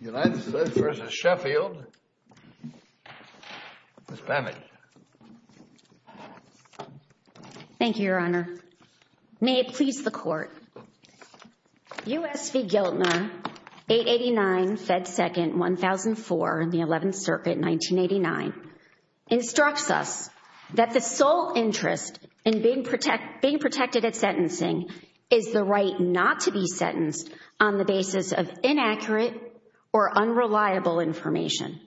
United States v. Sheffield Ms. Bammett Thank you, Your Honor. May it please the Court, U.S. v. Giltner, 889, Fed 2nd, 1004, 11th Circuit, 1989, instructs us that the sole interest in being protected at sentencing is the right not to be sentenced on the basis of inaccurate or unreliable information.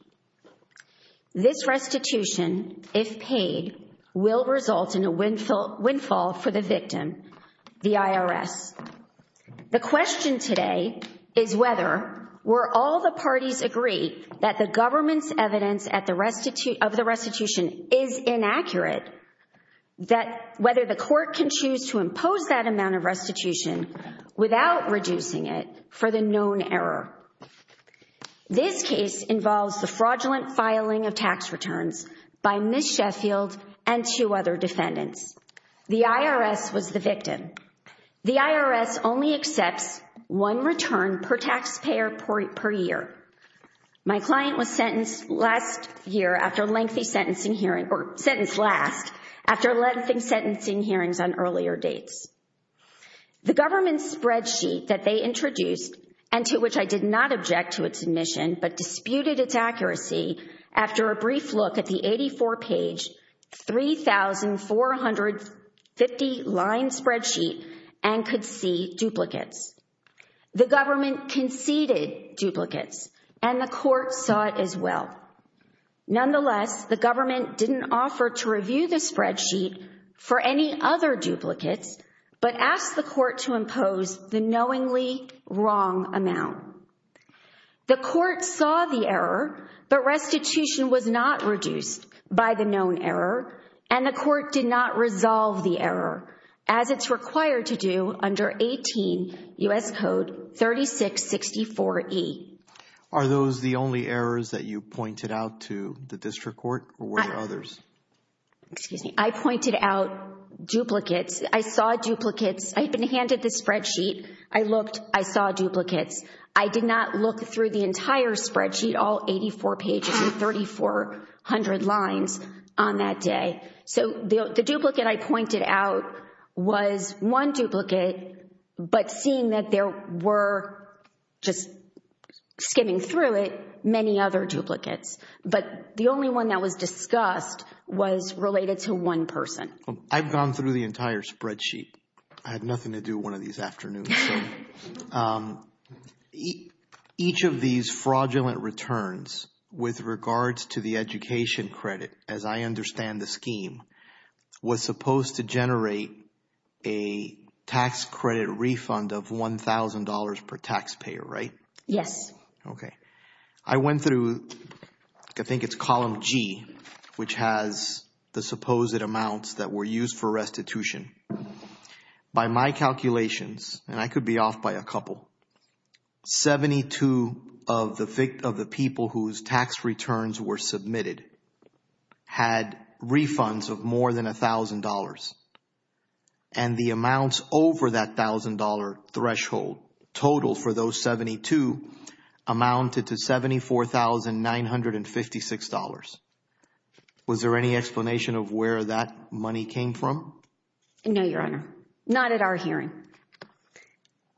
This restitution, if paid, will result in a windfall for the victim, the IRS. The question today is whether, were all the parties agreed that the government's evidence of the restitution is inaccurate, that whether the Court can choose to impose that amount of restitution without reducing it for the known error. This case involves the fraudulent filing of tax returns by Ms. Sheffield and two other defendants. The IRS was the victim. The IRS only accepts one return per taxpayer per year. My client was sentenced last year after lengthy sentencing hearings, or sentenced last, after lengthy sentencing hearings on earlier dates. The government's spreadsheet that they introduced, and to which I did not object to its admission, but disputed its accuracy after a brief look at the 84-page, 3,450-line spreadsheet and could see duplicates. The government conceded duplicates, and the Court saw it as well. Nonetheless, the government didn't offer to review the spreadsheet for any other duplicates, but asked the Court to impose the knowingly wrong amount. The Court saw the error, but restitution was not reduced by the known error, and the Court did not resolve the error, as it's required to do under 18 U.S. Code 3664E. Are those the only errors that you pointed out to the District Court, or were there others? Excuse me. I pointed out duplicates. I saw duplicates. I even handed the spreadsheet. I looked. I saw duplicates. I did not look through the entire spreadsheet, all 84 pages and 3,400 lines on that day. So the duplicate I pointed out was one duplicate, but seeing that there were, just skimming through it, many other duplicates. But the only one that was discussed was related to one person. I've gone through the entire spreadsheet. I had nothing to do one of these afternoons. Each of these fraudulent returns with regards to the education credit, as I understand the scheme, was supposed to generate a tax credit refund of $1,000 per taxpayer, right? Yes. Okay. I went through, I think it's column G, which has the supposed amounts that were used for restitution. By my calculations, and I could be off by a couple, 72 of the people whose tax returns were submitted had refunds of more than $1,000, and the amounts over that $1,000 threshold total for those 72 amounted to $74,956. Was there any explanation of where that money came from? No, Your Honor. Not at our hearing.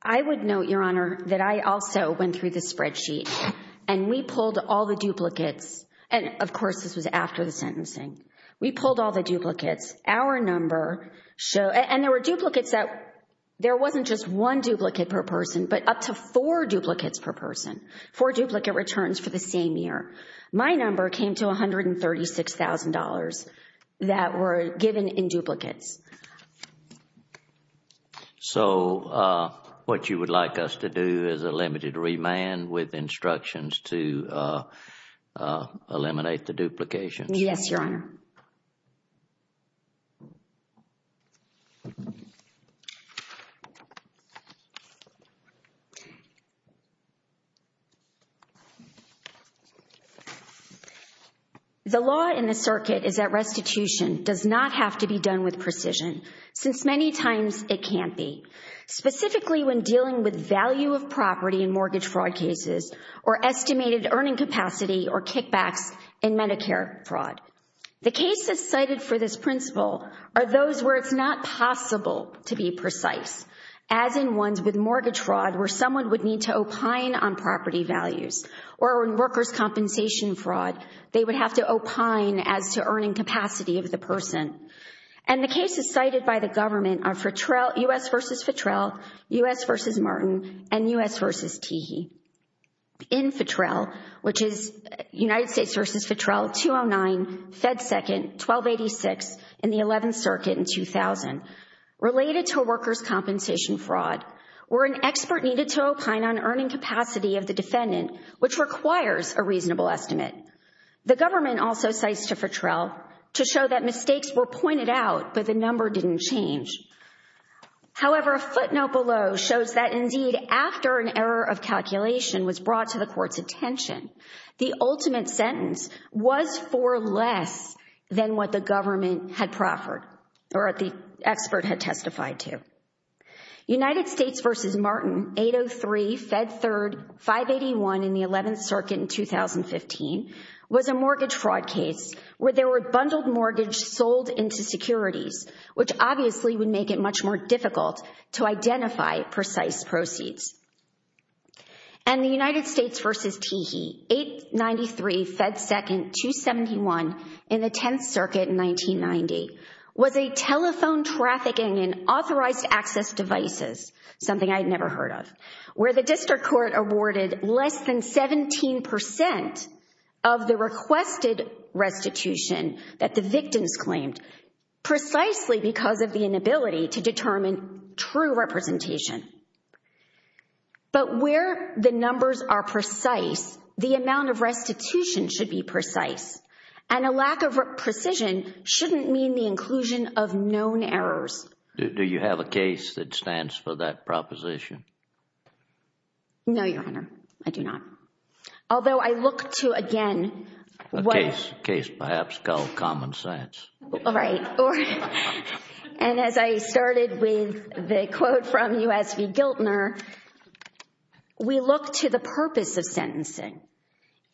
I would note, Your Honor, that I also went through the spreadsheet, and we pulled all the duplicates, and of course this was after the sentencing. We pulled all the duplicates. Our number showed, and there were duplicates that, there wasn't just one duplicate per person, but up to four duplicates per person, four duplicate returns for the same year. My number came to $136,000 that were given in duplicates. So, what you would like us to do is a limited remand with instructions to eliminate the duplications? Yes, Your Honor. The law in the circuit is that restitution does not have to be done with precision, since many times it can't be, specifically when dealing with value of property in mortgage fraud cases, or estimated earning capacity or kickbacks in Medicare fraud. The cases cited for this principle are those where it's not possible to be precise, as in ones with mortgage fraud where someone would need to opine on property values, or in workers' compensation fraud, they would have to opine as to earning capacity of the person. And the cases cited by the government are U.S. v. Fitrell, U.S. v. Martin, and U.S. v. Teehee. In Fitrell, which is United States v. Fitrell, 209, Fed Second, 1286, and the 11th Circuit in 2000, related to workers' compensation fraud, where an expert needed to opine on earning capacity of the defendant, which requires a reasonable estimate. The government also cites Fitrell to show that mistakes were pointed out, but the number didn't change. However, a footnote below shows that, indeed, after an error of calculation was brought to the court's attention, the ultimate sentence was for less than what the government had proffered, or the expert had testified to. United States v. Martin, 803, Fed Third, 581 in the 11th Circuit in 2015, was a mortgage fraud case where there were bundled mortgages sold into securities, which obviously would make it much more difficult to identify precise proceeds. And the United States v. Teehee, 893, Fed Second, 271 in the 10th Circuit in 1990, was a telephone trafficking in authorized access devices, something I had never heard of, where the district court awarded less than 17% of the requested restitution that the victims claimed, precisely because of the inability to determine true representation. But where the numbers are precise, the amount of restitution should be precise. And a lack of precision shouldn't mean the inclusion of known errors. Do you have a case that stands for that proposition? No, Your Honor, I do not. Although I look to, again— A case, perhaps, called common sense. Right. And as I started with the quote from U.S. v. Giltner, we look to the purpose of sentencing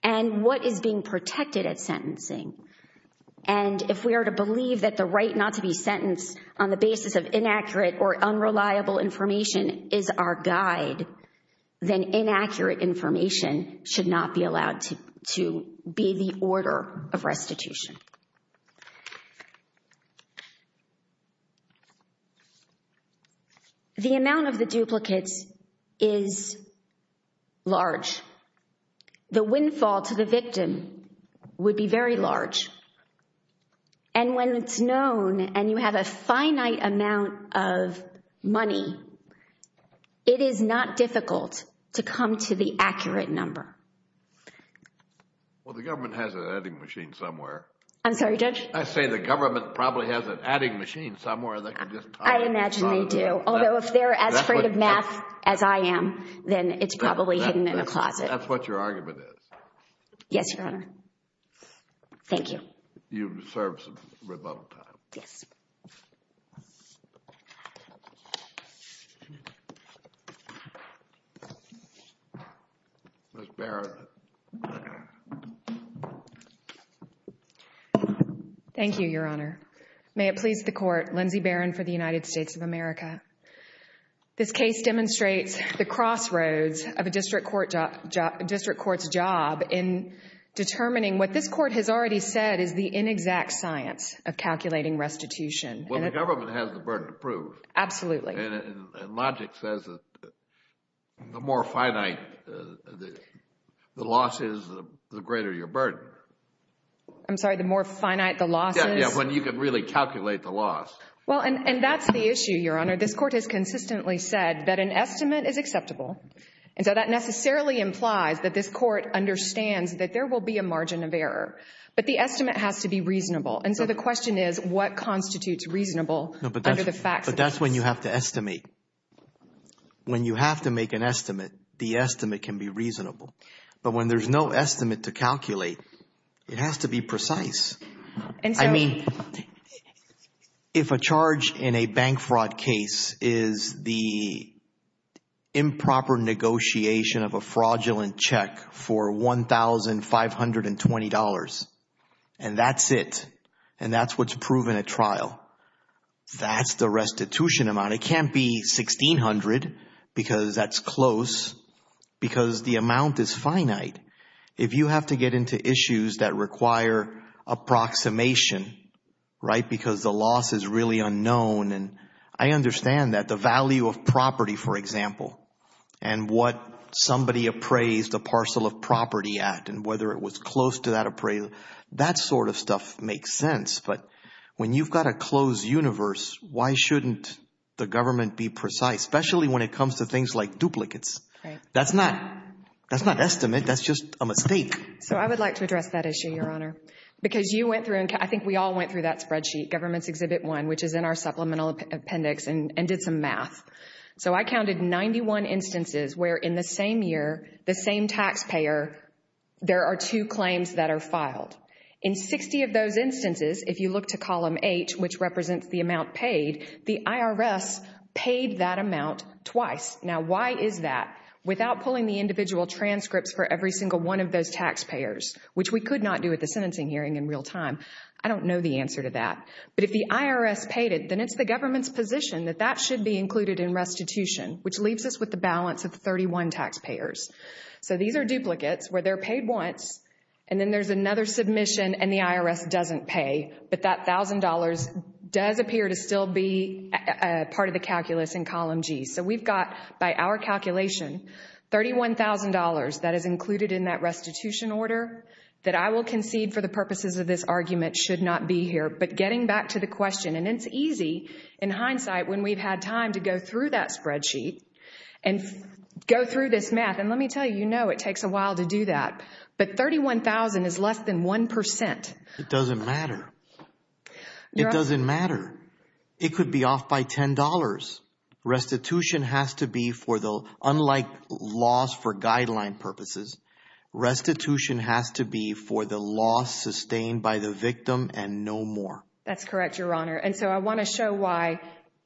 and what is being protected at sentencing. And if we are to believe that the right not to be sentenced on the basis of inaccurate or unreliable information is our guide, then inaccurate information should not be allowed to be the order of restitution. The amount of the duplicates is large. The windfall to the victim would be very large. And when it's known and you have a finite amount of money, it is not difficult to come to the accurate number. Well, the government has an adding machine somewhere. I'm sorry, Judge? I say the government probably has an adding machine somewhere that can just tie— I imagine they do. Although if they're as afraid of math as I am, then it's probably hidden in a closet. That's what your argument is. Yes, Your Honor. Thank you. You deserve some rebuttal time. Yes. Ms. Barrett. Thank you, Your Honor. May it please the Court, Lindsay Barron for the United States of America. This case demonstrates the crossroads of a district court's job in determining what this Court has already said is the inexact science of calculating restitution. Well, the government has the burden to prove. Absolutely. And logic says that the more finite the loss is, the greater your burden. I'm sorry, the more finite the loss is? Yes, when you can really calculate the loss. Well, and that's the issue, Your Honor. This Court has consistently said that an estimate is acceptable. And so that necessarily implies that this Court understands that there will be a margin of error. But the estimate has to be reasonable. And so the question is, what constitutes reasonable under the facts? But that's when you have to estimate. When you have to make an estimate, the estimate can be reasonable. But when there's no estimate to calculate, it has to be precise. I mean, if a charge in a bank fraud case is the improper negotiation of a fraudulent check for $1,520, and that's it, and that's what's proven at trial, that's the restitution amount. It can't be $1,600 because that's close because the amount is finite. If you have to get into issues that require approximation, right, because the loss is really unknown, and I understand that the value of property, for example, and what somebody appraised a parcel of property at and whether it was close to that appraisal, that sort of stuff makes sense. But when you've got a closed universe, why shouldn't the government be precise, especially when it comes to things like duplicates? That's not estimate. That's just a mistake. So I would like to address that issue, Your Honor, because you went through, and I think we all went through that spreadsheet, Government's Exhibit 1, which is in our supplemental appendix and did some math. So I counted 91 instances where in the same year, the same taxpayer, there are two claims that are filed. In 60 of those instances, if you look to column H, which represents the amount paid, the IRS paid that amount twice. Now, why is that? Without pulling the individual transcripts for every single one of those taxpayers, which we could not do at the sentencing hearing in real time, I don't know the answer to that. But if the IRS paid it, then it's the government's position that that should be included in restitution, which leaves us with the balance of 31 taxpayers. So these are duplicates where they're paid once, and then there's another submission, and the IRS doesn't pay, but that $1,000 does appear to still be part of the calculus in column G. So we've got, by our calculation, $31,000 that is included in that restitution order that I will concede for the purposes of this argument should not be here. But getting back to the question, and it's easy in hindsight when we've had time to go through that spreadsheet and go through this math, and let me tell you, you know it takes a while to do that, but 31,000 is less than 1%. It doesn't matter. It doesn't matter. It could be off by $10. Restitution has to be for the, unlike laws for guideline purposes, restitution has to be for the loss sustained by the victim and no more. That's correct, Your Honor. And so I want to show why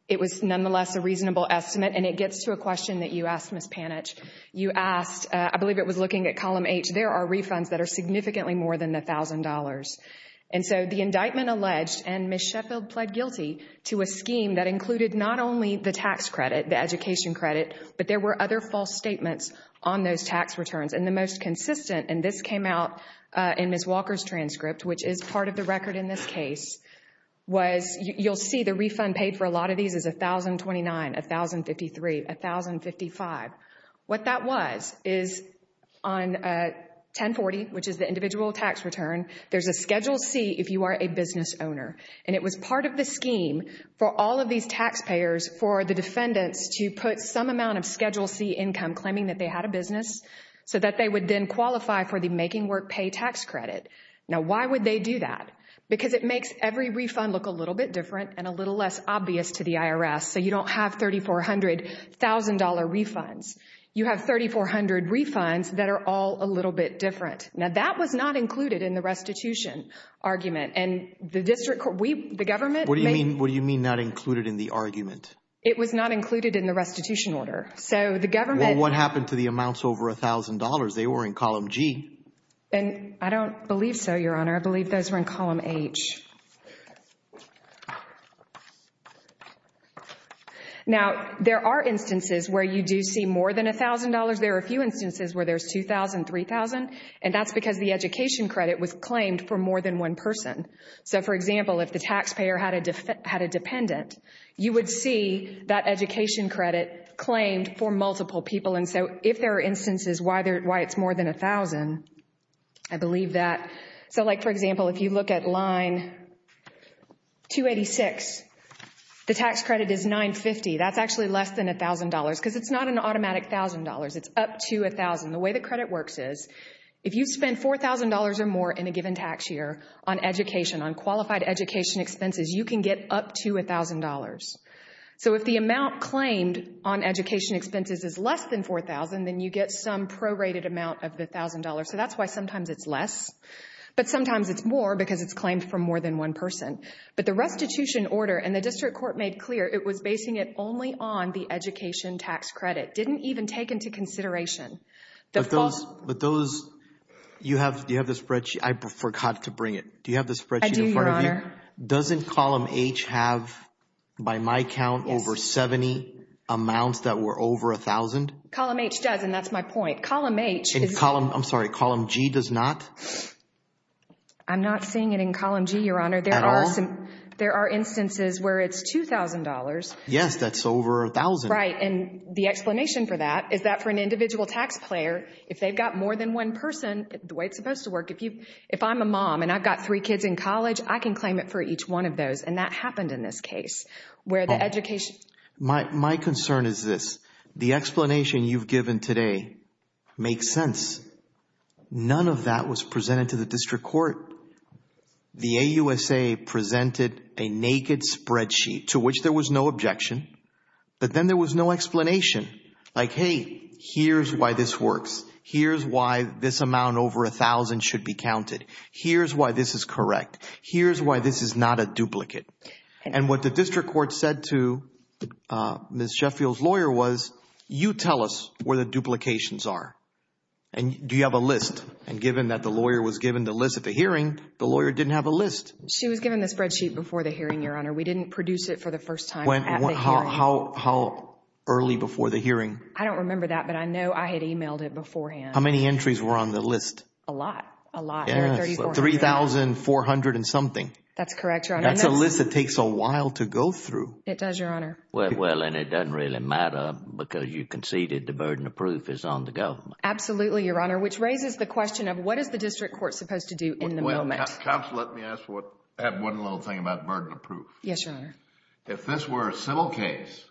it was nonetheless a reasonable estimate, and it gets to a question that you asked, Ms. Panitch. You asked, I believe it was looking at column H, there are refunds that are significantly more than $1,000. And so the indictment alleged, and Ms. Sheffield pled guilty to a scheme that included not only the tax credit, the education credit, but there were other false statements on those tax returns. And the most consistent, and this came out in Ms. Walker's transcript, which is part of the record in this case, was you'll see the refund paid for a lot of these is $1,029, $1,053, $1,055. What that was is on 1040, which is the individual tax return, there's a Schedule C if you are a business owner. And it was part of the scheme for all of these taxpayers for the defendants to put some amount of Schedule C income, claiming that they had a business, so that they would then qualify for the making work pay tax credit. Now, why would they do that? Because it makes every refund look a little bit different and a little less obvious to the IRS, so you don't have $3,400,000 refunds. You have 3,400 refunds that are all a little bit different. Now, that was not included in the restitution argument. And the district court, we, the government. What do you mean not included in the argument? It was not included in the restitution order. So the government. Well, what happened to the amounts over $1,000? They were in column G. And I don't believe so, Your Honor. I believe those were in column H. Now, there are instances where you do see more than $1,000. There are a few instances where there's $2,000, $3,000. And that's because the education credit was claimed for more than one person. So, for example, if the taxpayer had a dependent, you would see that education credit claimed for multiple people. And so if there are instances why it's more than $1,000, I believe that. So, like, for example, if you look at line 286, the tax credit is $950. That's actually less than $1,000 because it's not an automatic $1,000. It's up to $1,000. The way the credit works is if you spend $4,000 or more in a given tax year on education, on qualified education expenses, you can get up to $1,000. So if the amount claimed on education expenses is less than $4,000, then you get some prorated amount of the $1,000. So that's why sometimes it's less, but sometimes it's more because it's claimed for more than one person. But the restitution order, and the district court made clear it was basing it only on the education tax credit. It didn't even take into consideration. But those – you have the spreadsheet. I forgot to bring it. I do, Your Honor. Doesn't Column H have, by my count, over 70 amounts that were over $1,000? Column H does, and that's my point. Column H is – I'm sorry. Column G does not? I'm not seeing it in Column G, Your Honor. At all? There are instances where it's $2,000. Yes, that's over $1,000. Right, and the explanation for that is that for an individual taxpayer, if they've got more than one person, the way it's supposed to work, if I'm a mom and I've got three kids in college, I can claim it for each one of those. And that happened in this case where the education – My concern is this. The explanation you've given today makes sense. None of that was presented to the district court. The AUSA presented a naked spreadsheet to which there was no objection, but then there was no explanation. Like, hey, here's why this works. Here's why this amount over $1,000 should be counted. Here's why this is correct. Here's why this is not a duplicate. And what the district court said to Ms. Sheffield's lawyer was, you tell us where the duplications are. And do you have a list? And given that the lawyer was given the list at the hearing, the lawyer didn't have a list. She was given the spreadsheet before the hearing, Your Honor. We didn't produce it for the first time at the hearing. How early before the hearing? I don't remember that, but I know I had emailed it beforehand. How many entries were on the list? A lot. A lot. 3,400 and something. That's correct, Your Honor. That's a list that takes a while to go through. It does, Your Honor. Well, and it doesn't really matter because you conceded the burden of proof is on the government. Absolutely, Your Honor, which raises the question of what is the district court supposed to do in the moment? Counsel, let me ask one little thing about burden of proof. Yes, Your Honor. If this were a civil case,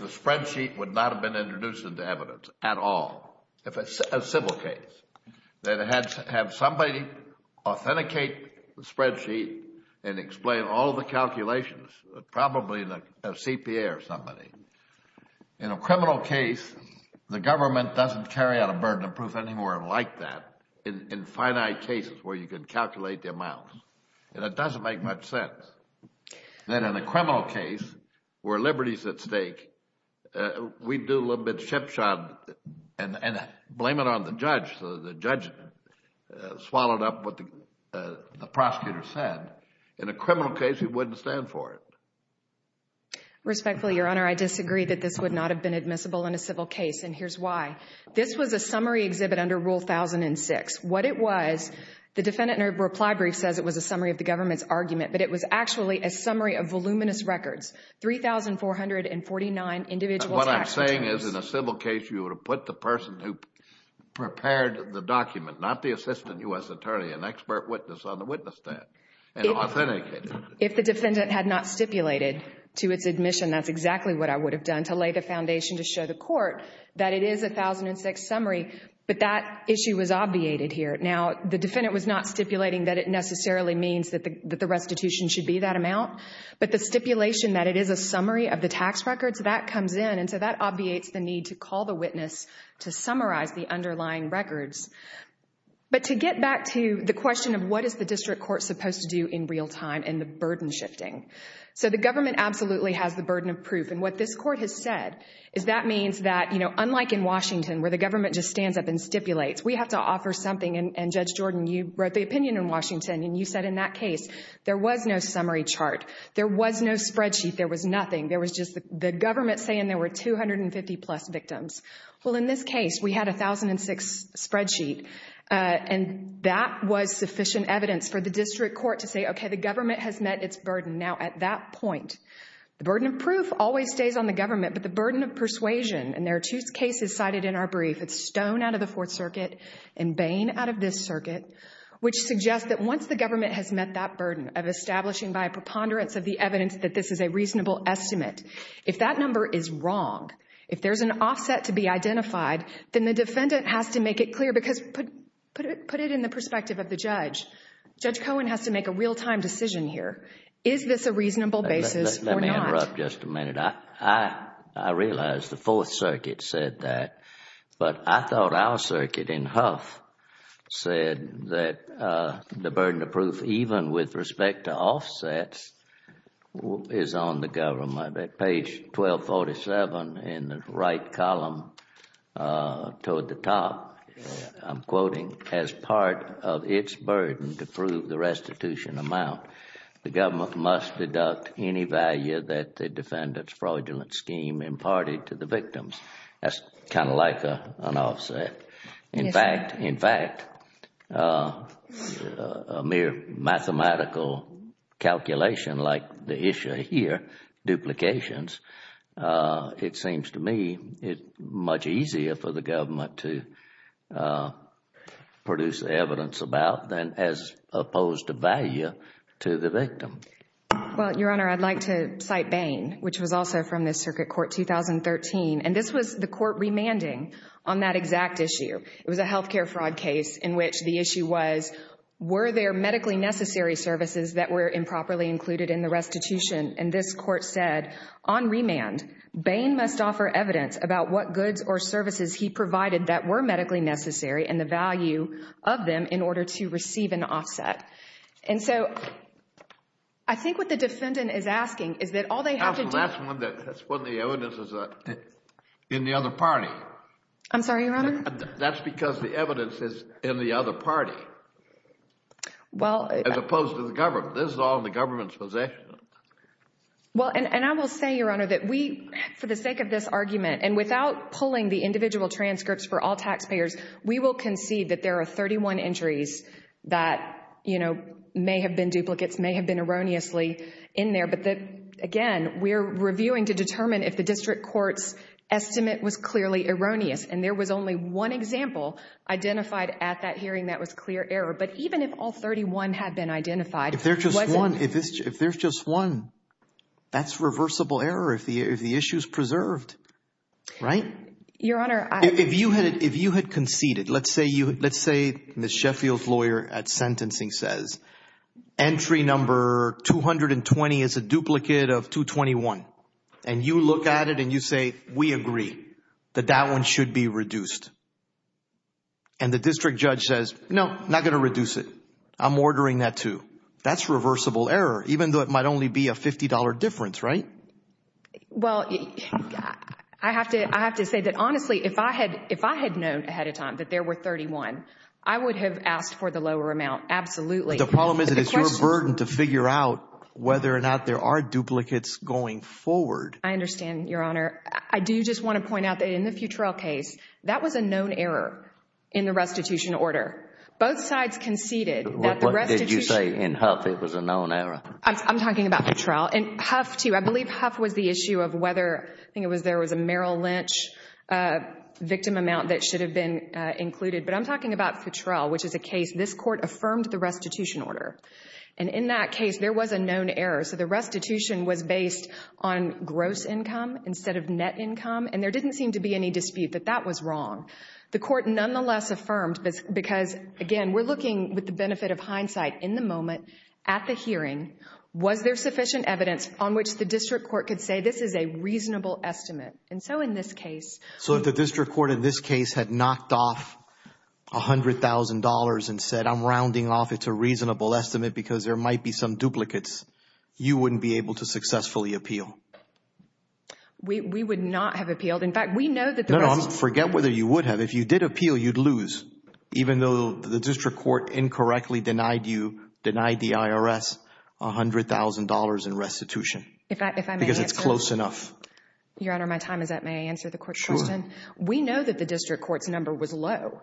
the spreadsheet would not have been introduced into evidence at all. If it's a civil case, then have somebody authenticate the spreadsheet and explain all the calculations, probably a CPA or somebody. In a criminal case, the government doesn't carry out a burden of proof anymore like that in finite cases where you can calculate the amounts. It doesn't make much sense that in a criminal case where liberty is at stake, we do a little bit of chip shot and blame it on the judge. The judge swallowed up what the prosecutor said. In a criminal case, we wouldn't stand for it. Respectfully, Your Honor, I disagree that this would not have been admissible in a civil case, and here's why. This was a summary exhibit under Rule 1006. What it was, the defendant in a reply brief says it was a summary of the government's argument, but it was actually a summary of voluminous records, 3,449 individual tax returns. What I'm saying is in a civil case, you would have put the person who prepared the document, not the assistant U.S. attorney, an expert witness on the witness stand and authenticated it. If the defendant had not stipulated to its admission, that's exactly what I would have done to lay the foundation to show the court that it is a 1006 summary, but that issue was obviated here. Now, the defendant was not stipulating that it necessarily means that the restitution should be that amount, but the stipulation that it is a summary of the tax records, that comes in, and so that obviates the need to call the witness to summarize the underlying records. But to get back to the question of what is the district court supposed to do in real time and the burden shifting, so the government absolutely has the burden of proof, and what this court has said is that means that, you know, unlike in Washington, where the government just stands up and stipulates, we have to offer something, and Judge Jordan, you wrote the opinion in Washington, and you said in that case, there was no summary chart, there was no spreadsheet, there was nothing, there was just the government saying there were 250-plus victims. Well, in this case, we had a 1006 spreadsheet, and that was sufficient evidence for the district court to say, okay, the government has met its burden. Now, at that point, the burden of proof always stays on the government, but the burden of persuasion, and there are two cases cited in our brief, it's Stone out of the Fourth Circuit and Bain out of this circuit, which suggests that once the government has met that burden of establishing by a preponderance of the evidence that this is a reasonable estimate, if that number is wrong, if there's an offset to be identified, then the defendant has to make it clear, because put it in the perspective of the judge. Judge Cohen has to make a real-time decision here. Is this a reasonable basis or not? Let me interrupt just a minute. I realize the Fourth Circuit said that, but I thought our circuit in Huff said that the burden of proof, even with respect to offsets, is on the government. Page 1247 in the right column toward the top, I'm quoting, as part of its burden to prove the restitution amount, the government must deduct any value that the defendant's fraudulent scheme imparted to the victims. That's kind of like an offset. In fact, a mere mathematical calculation like the issue here, duplications, it seems to me it's much easier for the government to produce evidence about than as opposed to value to the victim. Well, Your Honor, I'd like to cite Bain, which was also from the Circuit Court 2013. And this was the court remanding on that exact issue. It was a health care fraud case in which the issue was, were there medically necessary services that were improperly included in the restitution? And this court said, on remand, Bain must offer evidence about what goods or services he provided that were medically necessary and the value of them in order to receive an offset. And so I think what the defendant is asking is that all they have to do— That's when the evidence is in the other party. I'm sorry, Your Honor? That's because the evidence is in the other party. Well— As opposed to the government. This is all in the government's possession. Well, and I will say, Your Honor, that we, for the sake of this argument, and without pulling the individual transcripts for all taxpayers, we will concede that there are 31 entries that, you know, may have been duplicates, may have been erroneously in there, but that, again, we're reviewing to determine if the district court's estimate was clearly erroneous. And there was only one example identified at that hearing that was clear error. But even if all 31 had been identified— If there's just one. If there's just one. That's reversible error if the issue is preserved. Right? Your Honor, I— If you had conceded, let's say Ms. Sheffield's lawyer at sentencing says, entry number 220 is a duplicate of 221, and you look at it and you say, we agree that that one should be reduced. And the district judge says, no, not going to reduce it. I'm ordering that too. That's reversible error, even though it might only be a $50 difference, right? Well, I have to say that, honestly, if I had known ahead of time that there were 31, I would have asked for the lower amount, absolutely. But the problem is that it's your burden to figure out whether or not there are duplicates going forward. I understand, Your Honor. I do just want to point out that in the Futrell case, that was a known error in the restitution order. Both sides conceded that the restitution— What did you say? In Huff, it was a known error? I'm talking about Futrell. In Huff too. I believe Huff was the issue of whether—I think it was there was a Merrill Lynch victim amount that should have been included. But I'm talking about Futrell, which is a case this Court affirmed the restitution order. And in that case, there was a known error. So the restitution was based on gross income instead of net income. And there didn't seem to be any dispute that that was wrong. The Court nonetheless affirmed, because, again, we're looking with the benefit of hindsight, in the moment, at the hearing, was there sufficient evidence on which the district court could say this is a reasonable estimate? And so in this case— $100,000 and said, I'm rounding off it's a reasonable estimate because there might be some duplicates. You wouldn't be able to successfully appeal. We would not have appealed. In fact, we know that the restitution— No, no, forget whether you would have. If you did appeal, you'd lose, even though the district court incorrectly denied you, denied the IRS $100,000 in restitution. If I may answer— Because it's close enough. Your Honor, my time is up. May I answer the Court's question? Sure. We know that the district court's number was low.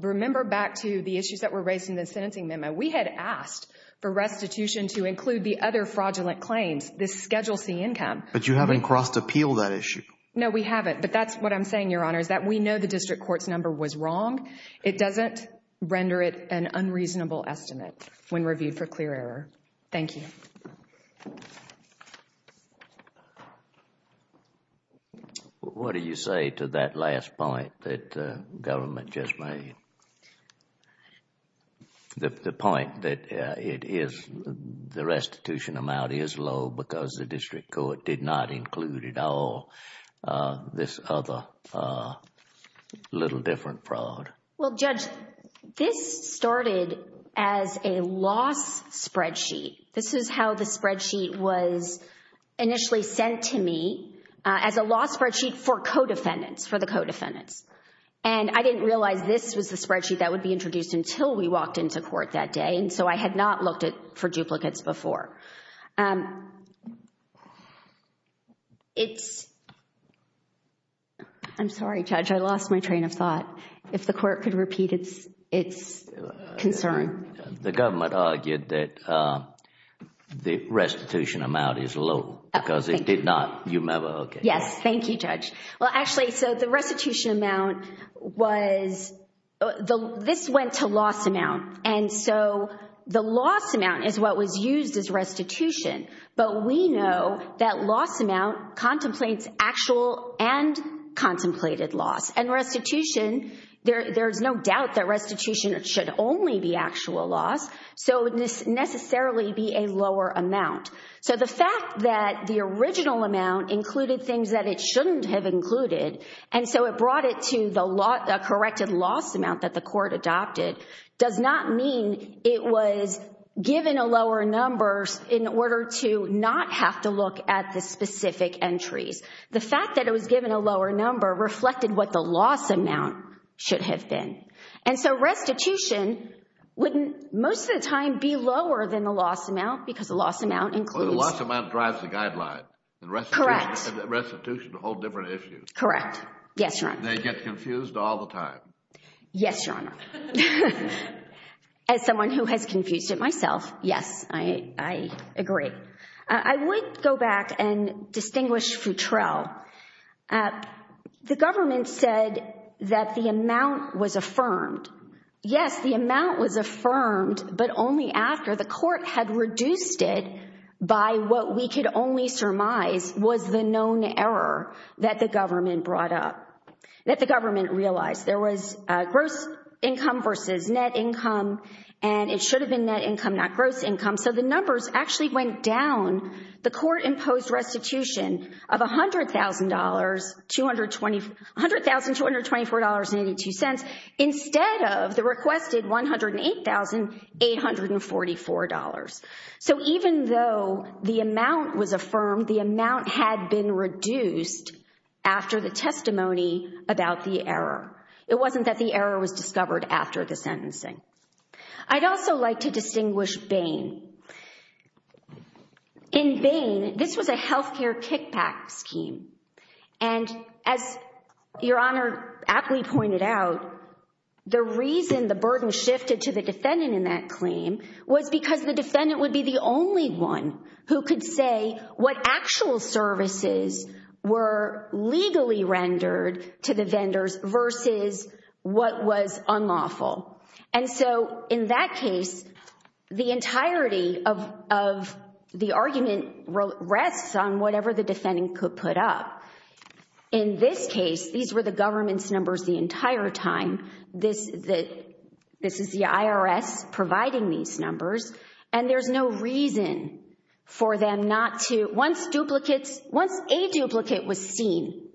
Remember back to the issues that were raised in the sentencing memo. We had asked for restitution to include the other fraudulent claims, this Schedule C income. But you haven't crossed-appealed that issue. No, we haven't. But that's what I'm saying, Your Honor, is that we know the district court's number was wrong. It doesn't render it an unreasonable estimate when reviewed for clear error. Thank you. What do you say to that last point that the government just made? The point that the restitution amount is low because the district court did not include at all this other little different fraud. Well, Judge, this started as a loss spreadsheet. This is how the spreadsheet was initially sent to me as a loss spreadsheet for co-defendants, for the co-defendants. And I didn't realize this was the spreadsheet that would be introduced until we walked into court that day. And so I had not looked for duplicates before. I'm sorry, Judge, I lost my train of thought. If the Court could repeat its concern. The government argued that the restitution amount is low because it did not, you remember, okay. Yes, thank you, Judge. Well, actually, so the restitution amount was, this went to loss amount. And so the loss amount is what was used as restitution. But we know that loss amount contemplates actual and contemplated loss. And restitution, there's no doubt that restitution should only be actual loss. So it would necessarily be a lower amount. So the fact that the original amount included things that it shouldn't have included, and so it brought it to the corrected loss amount that the court adopted, does not mean it was given a lower number in order to not have to look at the specific entries. The fact that it was given a lower number reflected what the loss amount should have been. And so restitution wouldn't most of the time be lower than the loss amount because the loss amount includes. Well, the loss amount drives the guideline. Correct. And restitution is a whole different issue. Correct. Yes, Your Honor. They get confused all the time. Yes, Your Honor. As someone who has confused it myself, yes, I agree. I would go back and distinguish Futrell. The government said that the amount was affirmed. Yes, the amount was affirmed, but only after the court had reduced it by what we could only surmise was the known error that the government brought up, that the government realized. There was gross income versus net income, and it should have been net income, not gross income. So the numbers actually went down. The court imposed restitution of $100,224.82 instead of the requested $108,844. So even though the amount was affirmed, the amount had been reduced after the testimony about the error. It wasn't that the error was discovered after the sentencing. I'd also like to distinguish Bain. In Bain, this was a health care kickback scheme. And as Your Honor aptly pointed out, the reason the burden shifted to the defendant in that claim was because the defendant would be the only one who could say what actual services were legally rendered to the vendors versus what was unlawful. And so in that case, the entirety of the argument rests on whatever the defendant could put up. In this case, these were the government's numbers the entire time. This is the IRS providing these numbers, and there's no reason for them not to. Once a duplicate was seen,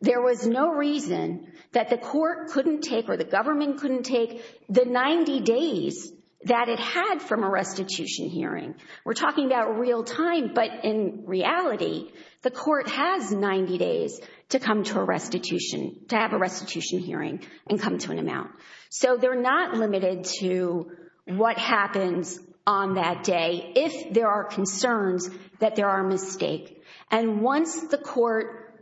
there was no reason that the court couldn't take or the government couldn't take the 90 days that it had from a restitution hearing. We're talking about real time, but in reality, the court has 90 days to come to a restitution, to have a restitution hearing and come to an amount. So they're not limited to what happens on that day if there are concerns that there are mistakes. And once the court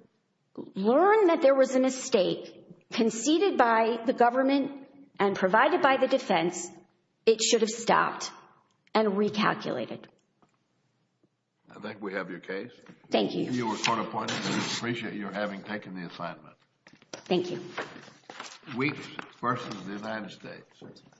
learned that there was a mistake conceded by the government and provided by the defense, it should have stopped and recalculated. I think we have your case. Thank you. You were court appointed. We appreciate you having taken the assignment. Thank you. Weeks versus the United States.